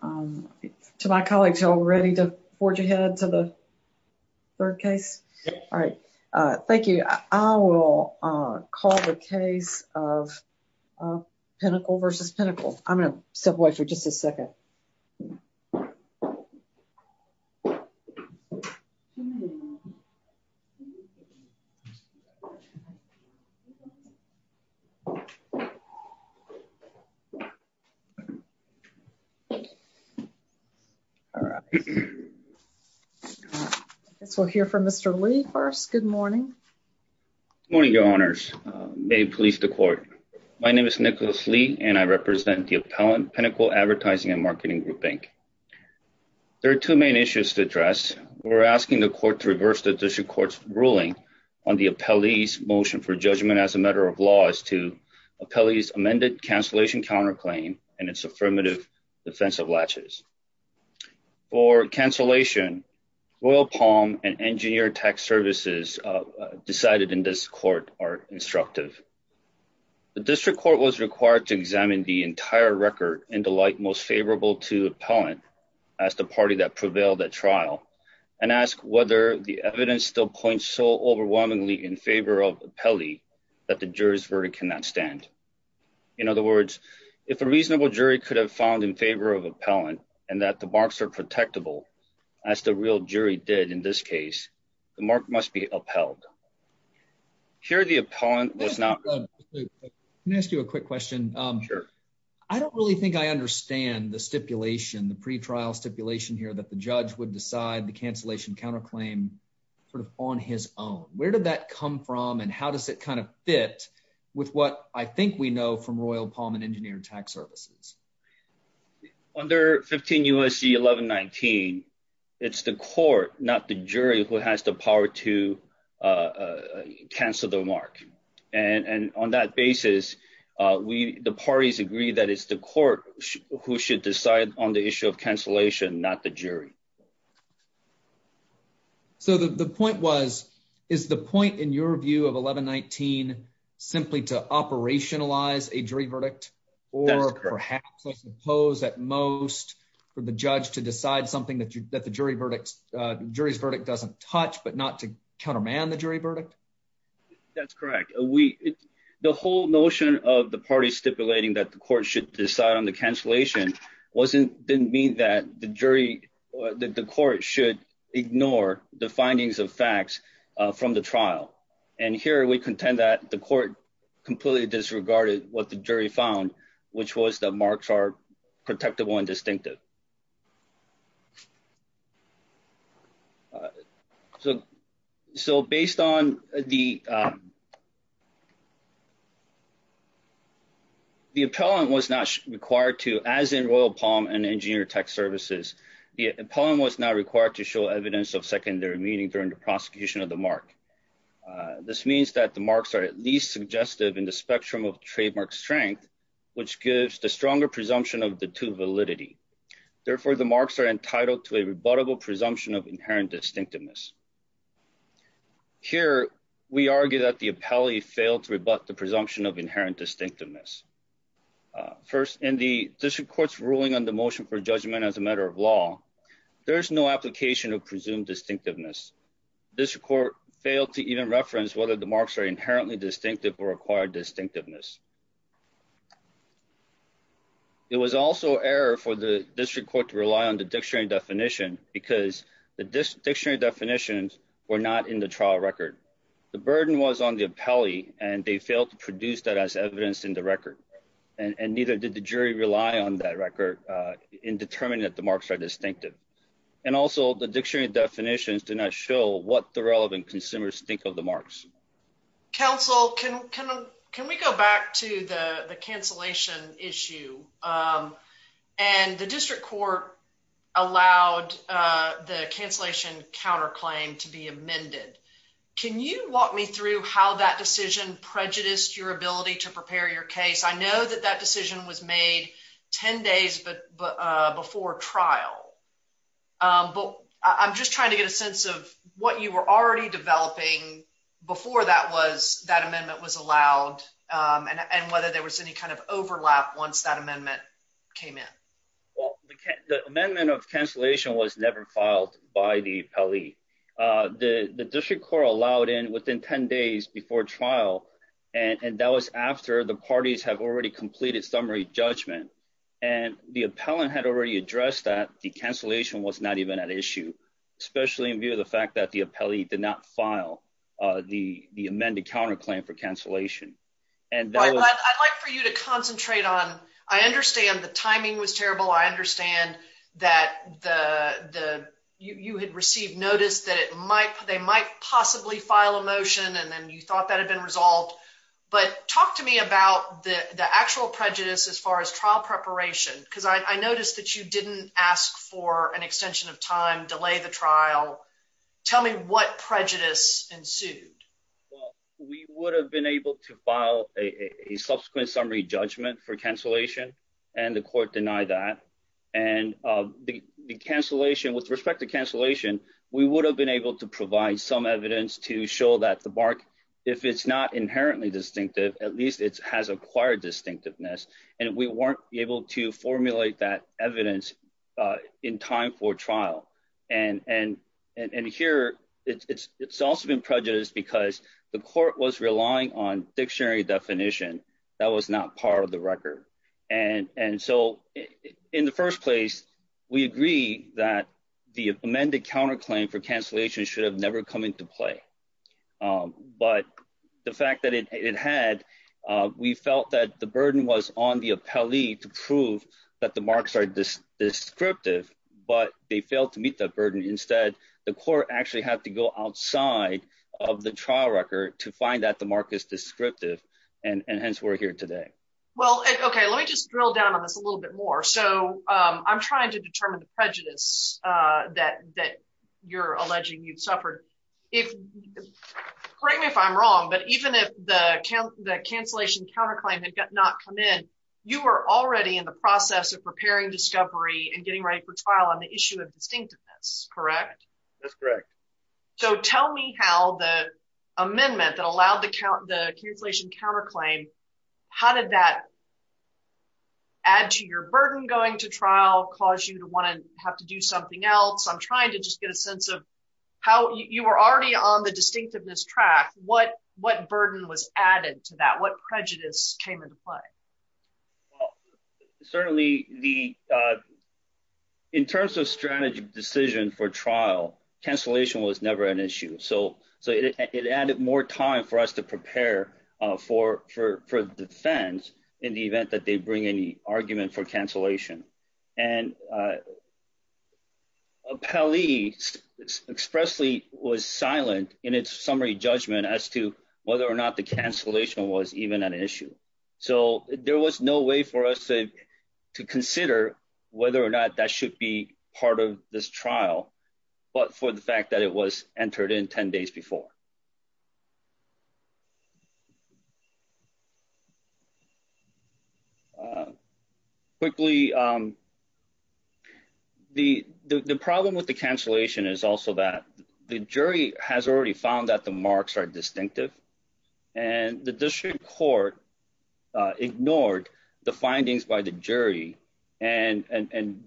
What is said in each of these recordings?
To my colleagues, y'all ready to forge ahead to the third case? All right. Thank you. I will call the case of Pinnacle v. Pinnacle. I'm going to step I guess we'll hear from Mr. Lee first. Good morning. Morning, Your Honors. May it please the Court. My name is Nicholas Lee, and I represent the appellant, Pinnacle Advertising and Marketing Group, Inc. There are two main issues to address. We're asking the Court to reverse the District Court's ruling on the appellee's motion for judgment as a matter of law as to appellee's amended cancellation counterclaim and its defensive latches. For cancellation, Royal Palm and Engineer Tax Services decided in this Court are instructive. The District Court was required to examine the entire record and delight most favorable to the appellant as the party that prevailed at trial and ask whether the evidence still points so overwhelmingly in favor of the appellee that the jury's verdict cannot stand. In other words, if a reasonable jury could have found in favor of appellant and that the marks are protectable, as the real jury did in this case, the mark must be upheld. Here the appellant was not. Can I ask you a quick question? Sure. I don't really think I understand the stipulation, the pre-trial stipulation here that the judge would decide the cancellation counterclaim sort of on his own. Where did that come from, and how does it kind of fit with what I think we know from Royal Palm and Engineer Tax Services? Under 15 U.S.C. 1119, it's the court, not the jury, who has the power to cancel the mark. And on that basis, the parties agree that it's the court who should decide on the issue of cancellation, not the jury. So the point was, is the point, in your view, of 1119 simply to operationalize a jury verdict, or perhaps, I suppose, at most, for the judge to decide something that the jury's verdict doesn't touch, but not to counterman the jury verdict? That's correct. The whole notion of the parties stipulating that the court should decide on the should ignore the findings of facts from the trial. And here, we contend that the court completely disregarded what the jury found, which was that marks are protectable and distinctive. So based on the the appellant was not required to, as in Royal Palm and Engineer Tax Services, the appellant was not required to show evidence of secondary meaning during the prosecution of the mark. This means that the marks are at least suggestive in the spectrum of trademark strength, which gives the stronger presumption of the two validity. Therefore, the marks are entitled to a rebuttable presumption of inherent distinctiveness. Here, we argue that the appellee failed to rebut the presumption of inherent distinctiveness. First, in the district court's ruling on the motion for judgment as a matter of law, there is no application of presumed distinctiveness. District court failed to even reference whether the marks are inherently distinctive or required distinctiveness. It was also error for the district court to rely on the dictionary definition, because the dictionary definitions were not in the trial record. The burden was on the appellee, and they failed to produce that as evidence in the record. And neither did the jury rely on that record in determining that the marks are distinctive. And also, the dictionary definitions do not show what the relevant consumers think of the marks. Counsel, can we go back to the cancellation counterclaim to be amended? Can you walk me through how that decision prejudiced your ability to prepare your case? I know that that decision was made 10 days before trial, but I'm just trying to get a sense of what you were already developing before that amendment was allowed, and whether there was any kind of overlap once that amendment came in. Well, the amendment of cancellation was never filed by the appellee. The district court allowed in within 10 days before trial, and that was after the parties have already completed summary judgment. And the appellant had already addressed that the cancellation was not even an issue, especially in view of the fact that the appellee did not file the amended counterclaim for cancellation. I'd like for you to concentrate on, I understand the timing was terrible. I understand that you had received notice that they might possibly file a motion, and then you thought that had been resolved. But talk to me about the actual prejudice as far as trial preparation, because I noticed that you didn't ask for an extension of time, delay the trial. Tell me what prejudice ensued. Well, we would have been able to file a subsequent summary judgment for cancellation, and the court denied that. And the cancellation, with respect to cancellation, we would have been able to provide some evidence to show that the mark, if it's not inherently distinctive, at least it has acquired distinctiveness, and we weren't able to formulate that evidence in time for trial. And here, it's also been prejudiced because the court was relying on dictionary definition. That was not part of the record. And so, in the first place, we agree that the amended counterclaim for cancellation should have never come into play. But the fact that it had, we felt that the burden was on the appellee to prove that the marks are descriptive, but they failed to meet that burden. Instead, the court actually had to go outside of the trial record to find that the mark is descriptive, and hence we're here today. Well, okay, let me just drill down on this a little bit more. So, I'm trying to determine the prejudice that you're wrong, but even if the cancellation counterclaim had not come in, you were already in the process of preparing discovery and getting ready for trial on the issue of distinctiveness, correct? That's correct. So, tell me how the amendment that allowed the cancellation counterclaim, how did that add to your burden going to trial, cause you to want to have to do something else? I'm trying to just get a sense of how you were already on the distinctiveness track, what burden was added to that? What prejudice came into play? Well, certainly, in terms of strategy decision for trial, cancellation was never an issue. So, it added more time for us to prepare for defense in the event that they bring in the argument for cancellation. And Pelley expressly was silent in its summary judgment as to whether or not the cancellation was even an issue. So, there was no way for us to consider whether or not that should be part of this trial, but for the fact that it was entered in 10 days before. Quickly, the problem with the cancellation is also that the jury has already found that the marks are distinctive and the district court ignored the findings by the jury and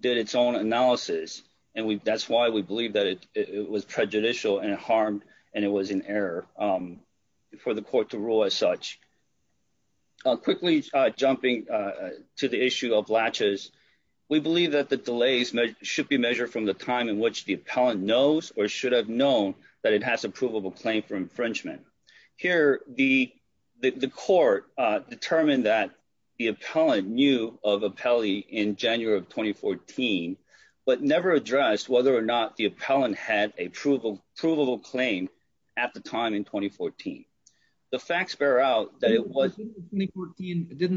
did its own analysis. And that's why we believe that it was prejudicial and harmed and it was an error for the court to rule as such. Quickly, jumping to the issue of latches, we believe that the delays should be measured from the time in which the appellant knows or should have known that it has a provable claim for infringement. Here, the court determined that the appellant knew of Pelley in but never addressed whether or not the appellant had a provable claim at the time in 2014. The facts bear out that it was... Didn't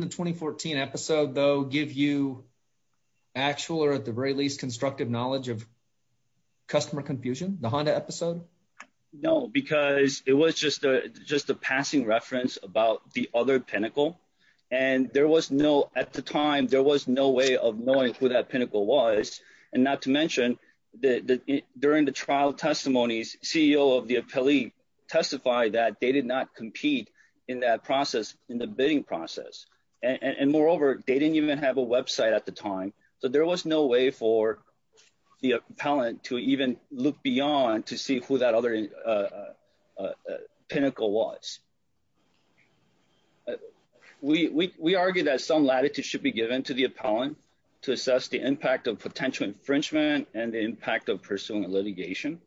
the 2014 episode though give you actual or at the very least constructive knowledge of customer confusion, the Honda episode? No, because it was just a just a passing reference about the other pinnacle and there was no at the time there was no way of and not to mention that during the trial testimonies, CEO of the appellee testified that they did not compete in that process in the bidding process. And moreover, they didn't even have a website at the time. So there was no way for the appellant to even look beyond to see who that other pinnacle was. We argue that some latitude should be given to the appellant to assess the infringement and the impact of pursuing a litigation.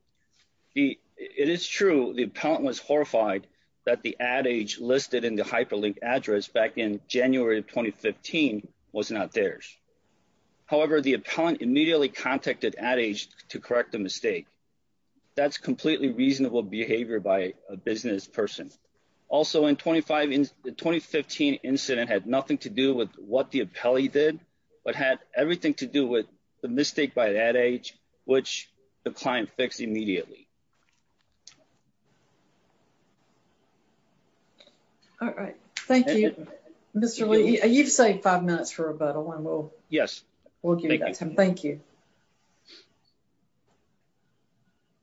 It is true the appellant was horrified that the adage listed in the hyperlink address back in January of 2015 was not theirs. However, the appellant immediately contacted AdAge to correct the mistake. That's completely reasonable behavior by a business person. Also in 2015 incident had nothing to do with what the appellee did, but had everything to do with the mistake by AdAge, which the client fixed immediately. All right, thank you, Mr. Lee. You've saved five minutes for rebuttal and we'll yes, we'll give you that time. Thank you.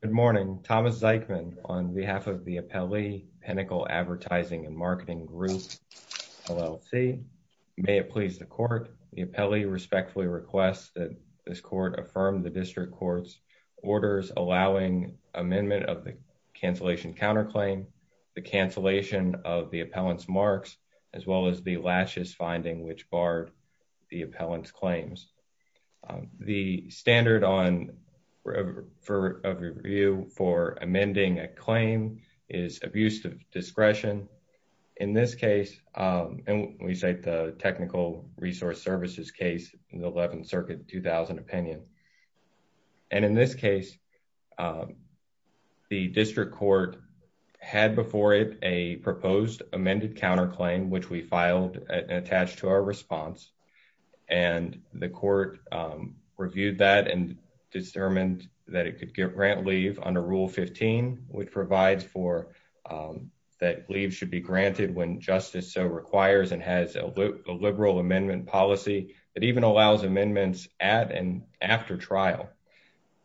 Good morning, Thomas Zeichman on behalf of the Appellee Pinnacle Advertising and Marketing Group LLC. May it please the court, the appellee respectfully requests that this court affirm the district court's orders allowing amendment of the cancellation counterclaim, the cancellation of the appellant's marks, as well as the lashes finding which barred the appellant's claims. The standard on review for amending a claim is abuse of discretion. In this case, and we cite the technical resource services case in the 11th Circuit 2000 opinion. And in this case, the district court had before it a proposed amended counterclaim, which we filed attached to our response. And the court reviewed that and determined that it could grant leave under Rule 15, which provides for that leave should be granted when justice so requires and has a liberal amendment policy that even allows amendments at and after trial.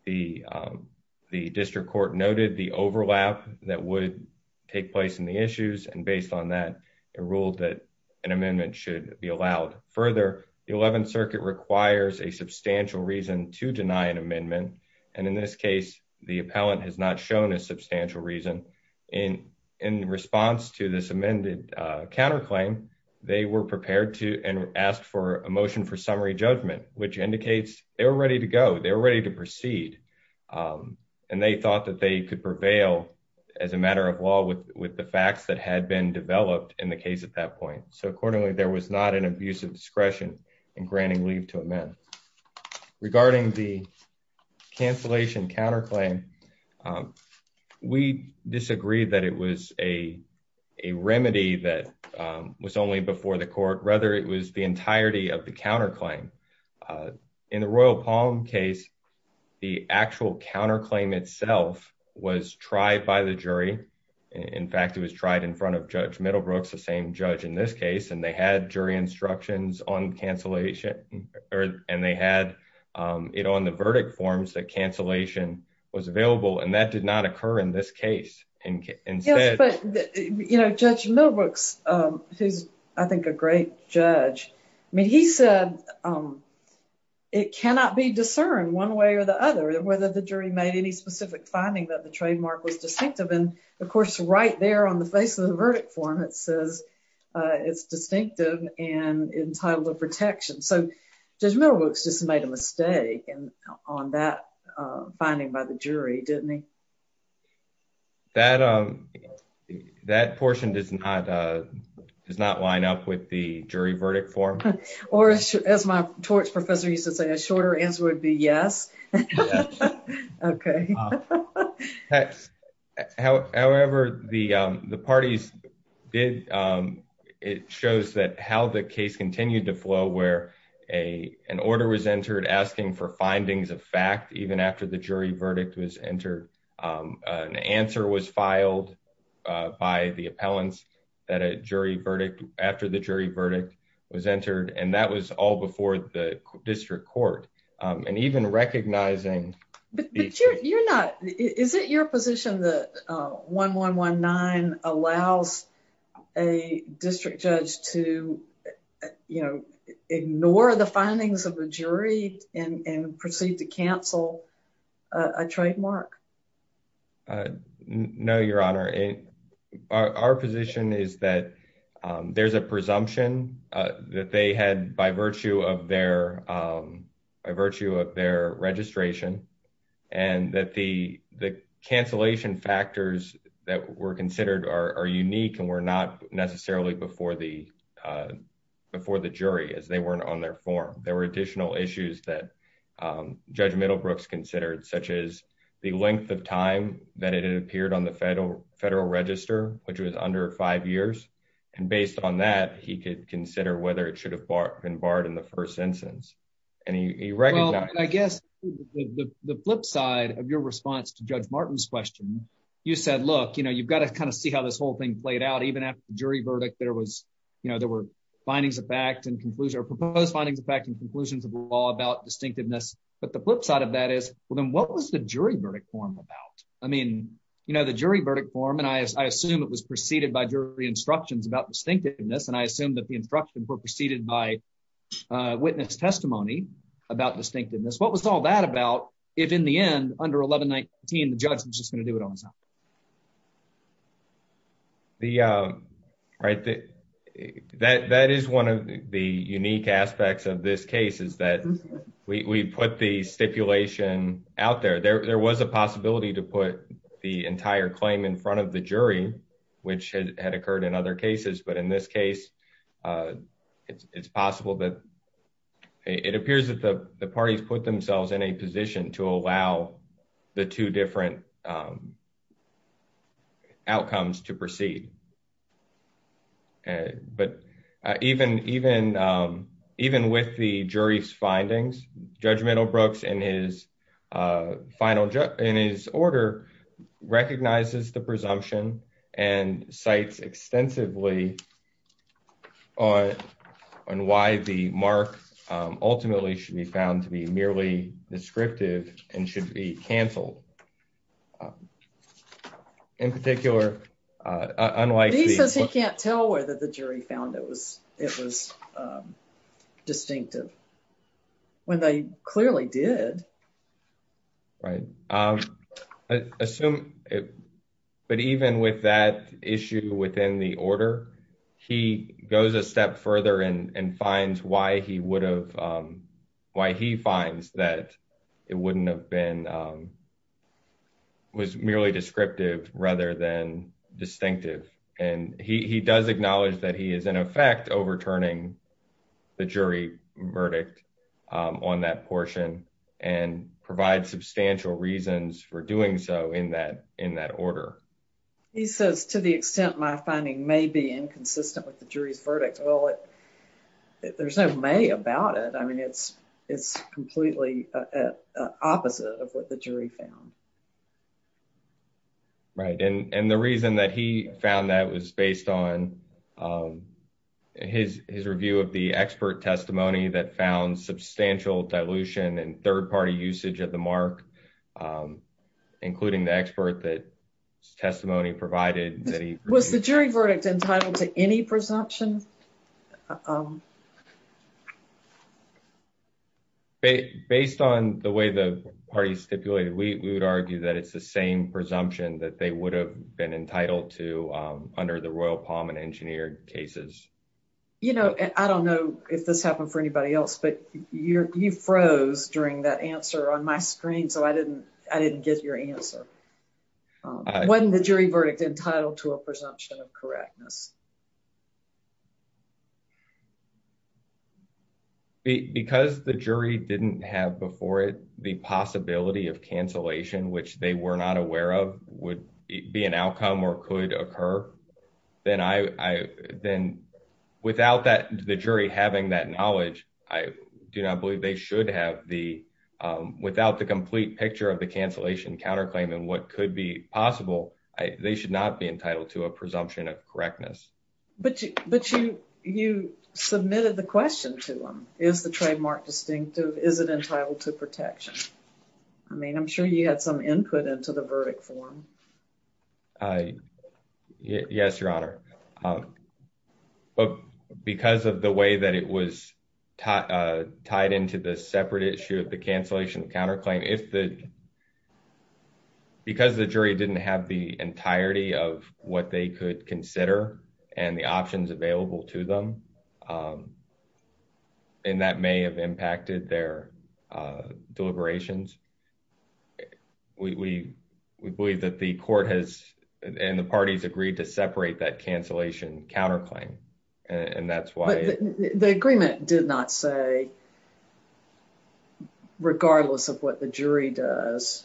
The district court noted the overlap that would take place in the issues. And based on that, it ruled that an amendment should be allowed further. The 11th Circuit requires a substantial reason to deny an amendment. And in this case, the appellant has not shown a substantial reason in in response to this amended counterclaim. They were prepared to ask for a motion for summary judgment, which could prevail as a matter of law with the facts that had been developed in the case at that point. So accordingly, there was not an abuse of discretion in granting leave to amend. Regarding the cancellation counterclaim, we disagree that it was a remedy that was only before the court, rather it was the entirety of the counterclaim. In the Royal Palm case, the actual counterclaim itself was tried by the jury. In fact, it was tried in front of Judge Middlebrooks, the same judge in this case, and they had jury instructions on cancellation and they had it on the verdict forms that cancellation was available. And that did not occur in this case. Judge Middlebrooks, who's I think a great judge, I mean, he said it cannot be discerned one way or the other whether the jury made any specific finding that the trademark was distinctive. And of course, right there on the face of the verdict form, it says it's distinctive and entitled to protection. So Judge Middlebrooks just made a mistake on that finding by the jury, didn't he? That portion does not line up with the jury verdict form. Or as my torts professor used to say, a shorter answer would be yes. Okay. However, the parties did, it shows that how the case continued to flow where an order was entered asking for findings of fact, even after the jury verdict was entered, an answer was filed by the appellants that a jury verdict after the jury verdict was entered. And that was all before the district court. And even recognizing... Is it your position that 1119 allows a district judge to ignore the findings of the jury and proceed to cancel a trademark? Uh, no, your honor. Our position is that there's a presumption that they had by virtue of their registration and that the cancellation factors that were considered are unique and were not necessarily before the jury as they weren't on their form. There were additional issues that the length of time that it had appeared on the federal register, which was under five years. And based on that, he could consider whether it should have been barred in the first instance. I guess the flip side of your response to Judge Martin's question, you said, look, you know, you've got to kind of see how this whole thing played out. Even after the jury verdict, there was, you know, there were findings of fact and conclusion or proposed findings of fact and conclusions of law about distinctiveness. But the flip side of that is, then what was the jury verdict form about? I mean, you know, the jury verdict form, and I assume it was preceded by jury instructions about distinctiveness. And I assume that the instructions were preceded by witness testimony about distinctiveness. What was all that about if in the end, under 1119, the judge was just going to do it on his own? Right. That is one of the unique aspects of this case is that we put the stipulation out there. There was a possibility to put the entire claim in front of the jury, which had occurred in other cases. But in this case, it's possible that it appears that the outcomes to proceed. But even with the jury's findings, Judge Middlebrooks, in his order, recognizes the presumption and cites extensively on why the mark ultimately should be found to be merely descriptive and should be canceled. In particular, unlike... He says he can't tell whether the jury found it was distinctive, when they clearly did. Right. But even with that issue within the order, he goes a step further and finds why he would have why he finds that it wouldn't have been... Was merely descriptive rather than distinctive. And he does acknowledge that he is, in effect, overturning the jury verdict on that portion and provide substantial reasons for doing so in that order. He says, to the extent my finding may be inconsistent with the jury's verdict. Well, if there's no may about it, I mean, it's completely opposite of what the jury found. Right. And the reason that he found that was based on his review of the expert testimony that found substantial dilution and third-party usage of the mark, including the expert that testimony provided. Was the jury verdict entitled to any presumption? Based on the way the party stipulated, we would argue that it's the same presumption that they would have been entitled to under the Royal Palm and Engineer cases. I don't know if this happened for anybody else, but you froze during that answer on my screen, so I didn't get your answer. Wasn't the jury verdict entitled to a presumption of correctness? Because the jury didn't have before it the possibility of cancellation, which they were not aware of, would be an outcome or could occur, then without the jury having that knowledge, I do not believe they should have the, without the complete picture of the cancellation counterclaim and what could be possible, they should not be entitled to a presumption of correctness. But you submitted the question to him. Is the trademark distinctive? Is it entitled to protection? I mean, I'm sure he had some input into the verdict form. Yes, Your Honor. But because of the way that it was tied into the separate issue of the cancellation counterclaim, if the, because the jury didn't have the entirety of what they could consider and the options available to them, and that may have impacted their deliberations, we believe that the court has, and the parties, agreed to separate that cancellation counterclaim. The agreement did not say, regardless of what the jury does,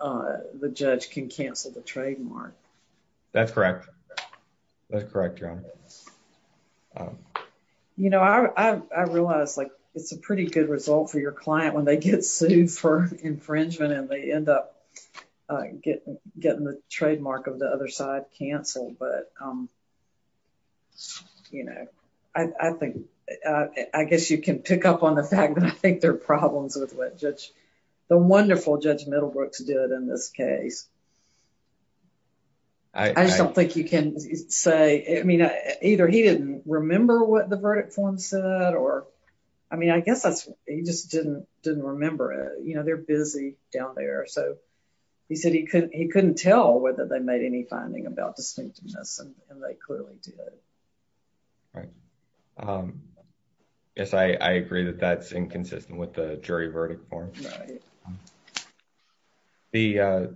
the judge can cancel the trademark. That's correct. That's correct, Your Honor. You know, I realize, like, it's a pretty good result for your client when they get sued for infringement and they end up getting the trademark of the other side canceled. But, you know, I think, I guess you can pick up on the fact that I think there are problems with what the wonderful Judge Middlebrooks did in this case. I just don't think you can say, I mean, either he didn't remember what the verdict form said or, I mean, I guess that's, he just didn't, didn't remember it. You know, they're busy down there. So, he said he couldn't, he couldn't tell whether they made any finding about distinctiveness and they clearly did. Right. Yes, I agree that that's inconsistent with the jury verdict form. The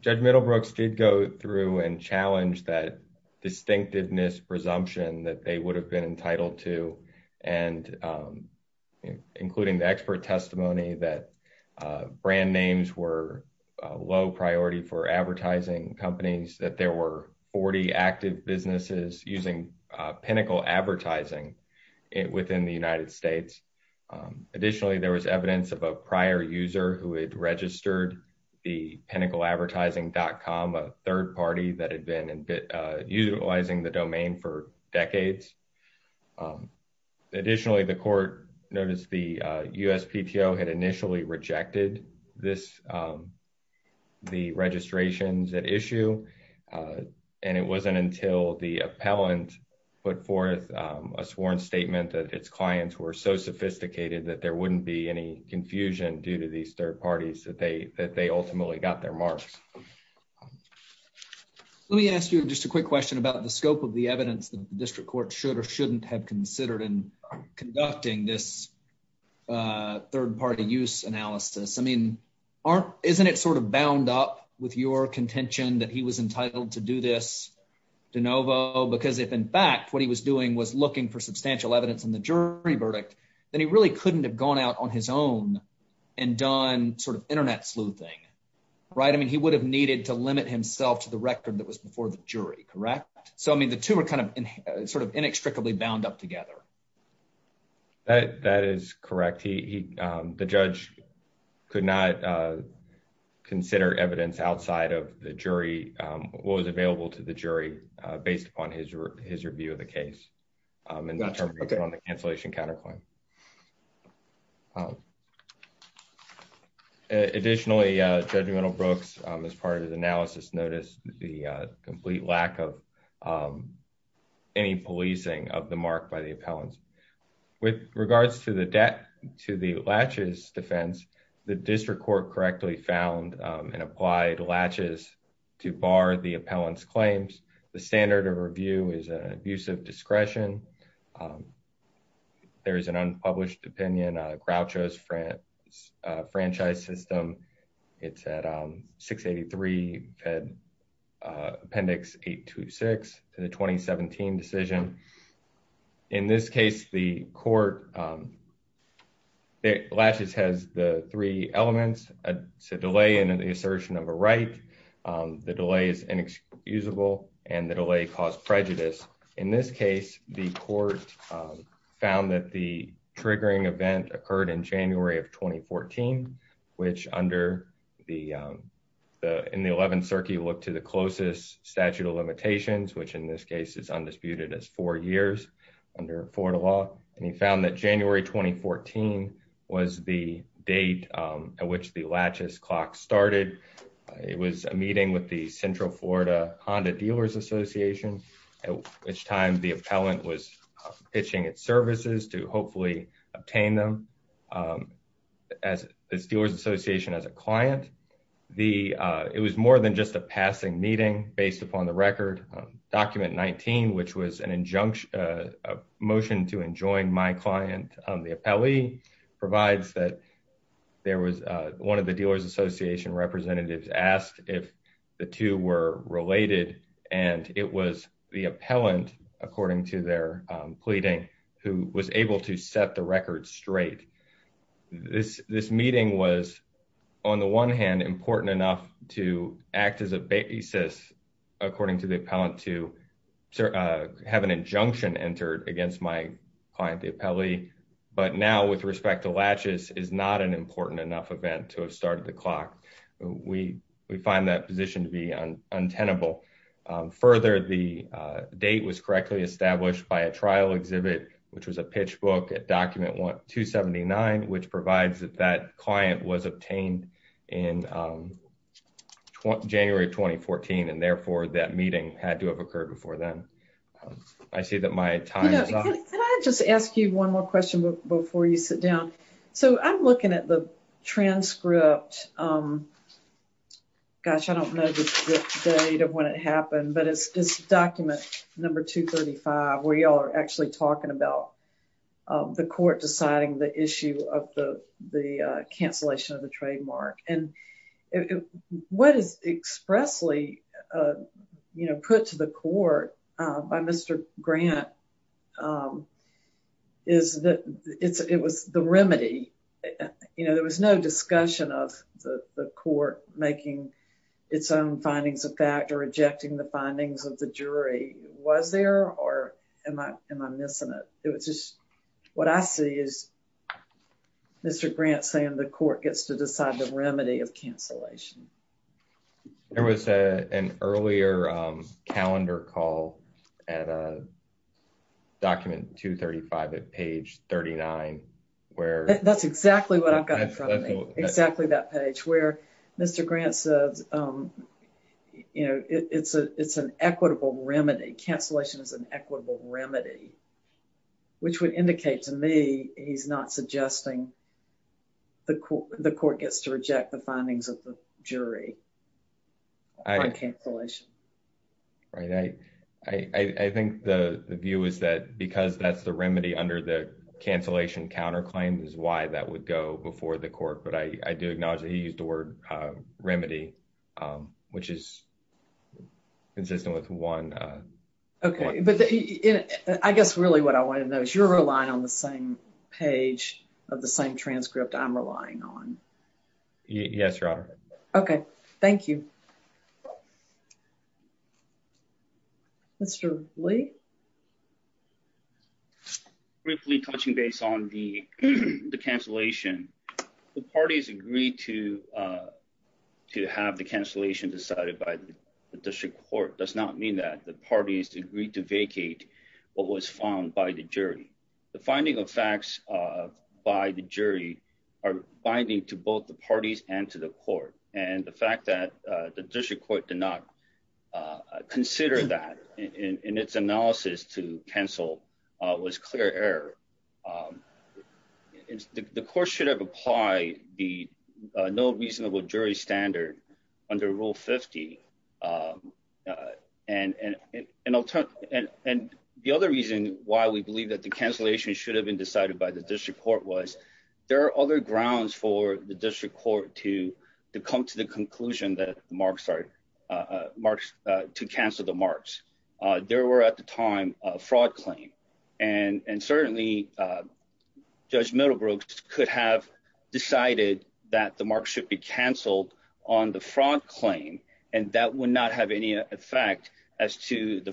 Judge Middlebrooks did go through and challenge that distinctiveness presumption that they would have been entitled to and including the expert testimony that brand names were a low priority for advertising companies, that there were 40 active businesses using Pinnacle Advertising within the United States. Additionally, there was evidence of a prior user who had registered the PinnacleAdvertising.com, a third party that had been utilizing the domain for decades. Additionally, the court noticed the appellant put forth a sworn statement that its clients were so sophisticated that there wouldn't be any confusion due to these third parties that they ultimately got their marks. Let me ask you just a quick question about the scope of the evidence that the district court should or shouldn't have considered in conducting this third party use analysis. I mean, isn't it sort of bound up with your contention that he was entitled to do this de novo? Because if in fact what he was doing was looking for substantial evidence in the jury verdict, then he really couldn't have gone out on his own and done sort of internet sleuthing. Right. I mean, he would have needed to limit himself to the record that was before the jury. Correct. So, I mean, the two are kind of sort of inextricably bound up together. That is correct. He the judge could not consider evidence outside of the jury what was available to the jury based upon his review of the case. And that's on the cancellation counterclaim. Additionally, judgmental Brooks, as part of the analysis, noticed the complete lack of any policing of the mark by the appellants. With regards to the debt to the latches defense, the district court correctly found and applied latches to bar the appellant's claims. The standard of review is an abuse of discretion. There is an unpublished opinion Groucho's franchise system. It's at 683 Fed Appendix 826 to the 2017 decision. In this case, the court um, latches has the three elements, a delay in the assertion of a right, the delay is inexcusable, and the delay caused prejudice. In this case, the court found that the triggering event occurred in January of 2014, which under the in the 11th circuit looked to the closest statute of limitations, which in this case is undisputed as four years under Florida law. And he found that January 2014 was the date at which the latches clock started. It was a meeting with the Central Florida Honda Dealers Association, at which time the appellant was pitching its services to hopefully obtain them. Um, as this dealers association as a client, the, uh, it was more than just a passing meeting based upon the record document 19, which was an injunction motion to enjoy my client. The appellee provides that there was one of the dealers association representatives asked if the two were related, and it was the appellant, according to their pleading, who was able to set the record straight. This this meeting was on the one hand important enough to act as a basis, according to the appellant to have an injunction entered against my client, the appellee. But now, with respect to latches, is not an important enough event to have started the clock. We find that position to be untenable. Further, the date was correctly established by a trial exhibit, which was a pitch book at document 279, which provides that that client was obtained in January of 2014, and therefore, that meeting had to have occurred before then. I see that my time is up. Can I just ask you one more question before you sit down? So, I'm looking at the transcript. Um, gosh, I don't know the date of when it happened, but it's this document number 235, where y'all are actually talking about the court deciding the issue of the, the cancellation of the trademark. And what is expressly, you know, put to the court by Mr. Grant is that it's, it was the remedy. You know, there was no discussion of the court making its own findings of fact or rejecting the findings of the jury. Was there, or am I, am I missing it? It was just, what I see is Mr. Grant saying the court gets to decide the remedy of cancellation. There was an earlier calendar call at document 235 at page 39, where... That's exactly what I've got in front of me, exactly that page, where Mr. Grant said, um, you know, it's a, it's an equitable remedy. Cancellation is an equitable remedy, which would indicate to me he's not suggesting the court, the court gets to reject the findings of the jury on cancellation. Right. I, I, I think the, the view is that because that's the remedy under the cancellation counterclaim is why that would go before the court. But I, I do acknowledge he used the word, uh, remedy, um, which is consistent with one, uh... Okay, but I guess really what I wanted to know is you're relying on the same page of the same transcript I'm relying on. Yes, Your Honor. Okay, thank you. Mr. Lee? Briefly touching base on the, the cancellation, the parties agreed to, uh, to have the cancellation decided by the district court does not mean that the parties agreed to vacate what was found by the jury. The finding of facts, uh, by the jury are binding to both the parties and to the court. And the fact that, uh, the district court did not, uh, consider that in, in its analysis to cancel, uh, was clear error. Um, it's the, the court should have applied the, uh, no reasonable jury standard under rule 50. Um, uh, and, and, and I'll talk, and, and the other reason why we believe that the cancellation should have been decided by the district court was there are other grounds for the district court to, to come to the conclusion that marks are, uh, marks, uh, to cancel the marks. Uh, there were at the time a fraud claim and, and certainly, uh, Judge Middlebrooks could have decided that the mark should be canceled on the fraud claim. And that would not have any effect as to the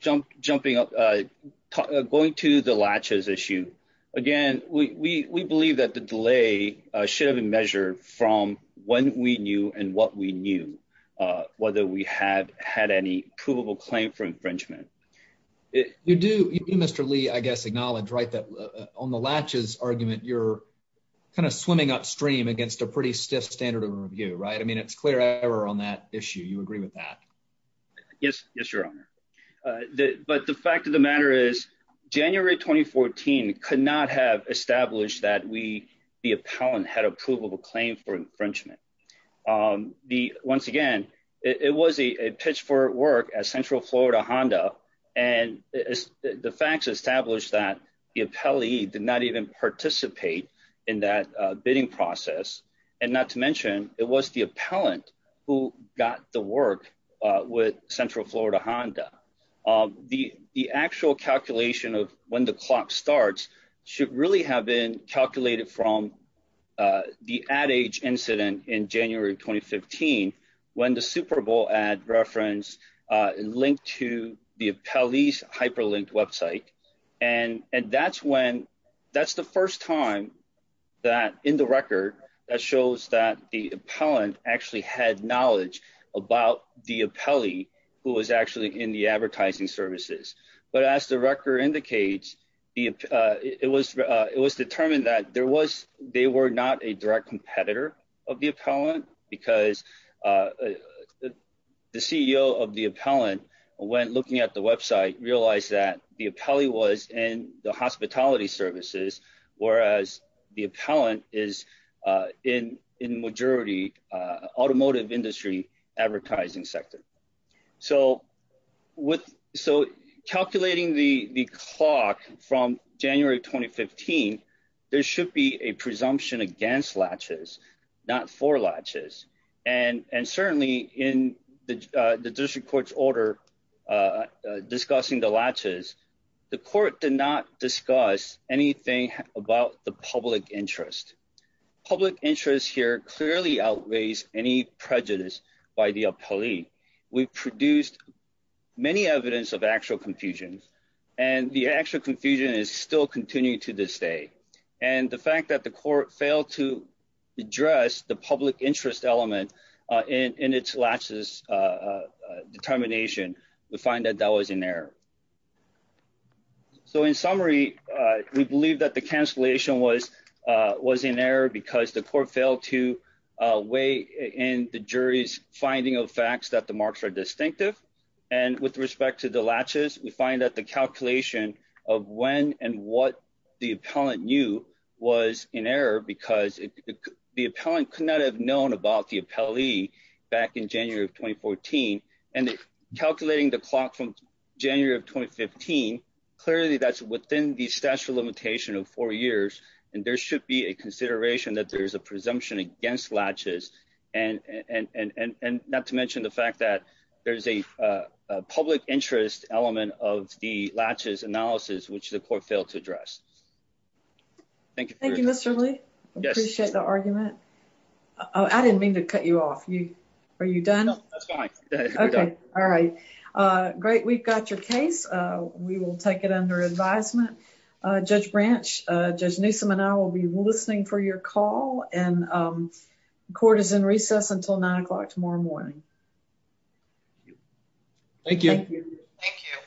jumping up, uh, going to the latches issue. Again, we, we, we believe that the delay should have been measured from when we knew and what we knew, uh, whether we had had any provable claim for infringement. You do, Mr. Lee, I guess, acknowledge, right, that on the latches argument, you're kind of swimming upstream against a pretty stiff standard of review, right? I mean, it's on that issue. You agree with that? Yes. Yes, your honor. Uh, the, but the fact of the matter is January, 2014 could not have established that we, the appellant had a provable claim for infringement. Um, the, once again, it was a pitch for work as central Florida Honda, and the facts established that the appellee did not even participate in that bidding process. And not to mention it was the appellant who got the work, uh, with central Florida Honda. Um, the, the actual calculation of when the clock starts should really have been calculated from, uh, the ad age incident in January, 2015, when the Superbowl ad reference, uh, linked to the appellee's hyperlinked website. And, and that's when, that's the first time that in the that shows that the appellant actually had knowledge about the appellee who was actually in the advertising services. But as the record indicates, the, uh, it was, uh, it was determined that there was, they were not a direct competitor of the appellant because, uh, the CEO of the appellant went looking at the website, realized that the appellee was in the hospitality services. Whereas the appellant is, uh, in, in majority, uh, automotive industry advertising sector. So with, so calculating the, the clock from January, 2015, there should be a presumption against latches, not for latches. And, and certainly in the, uh, the district court's order, uh, uh, discussing the latches, the court did not discuss anything about the public interest. Public interest here clearly outweighs any prejudice by the appellee. We produced many evidence of actual confusions and the actual confusion is still continuing to this day. And the fact that the court failed to address the public interest element, uh, in, in its latches, uh, uh, determination, we find that that was in error. So in summary, uh, we believe that the cancellation was, uh, was in error because the court failed to, uh, weigh in the jury's finding of facts that the marks are distinctive. And with respect to the latches, we find that the calculation of when and what the appellant knew was in error because the appellant could not have known about the appellee back in January of 2014. And calculating the clock from January of 2015, clearly that's within the statute of limitation of four years. And there should be a consideration that there's a presumption against latches. And, and, and, and, and not to mention the fact that there's a, uh, public interest element of the latches analysis, which the court failed to address. Thank you, Mr. Lee. I appreciate the argument. Oh, I didn't mean to cut you off. You, are you done? Okay. All right. Uh, great. We've got your case. Uh, we will take it under advisement. Uh, Judge Branch, uh, Judge Newsome and I will be listening for your call. And, um, court is in recess until nine o'clock tomorrow morning. Thank you. Thank you.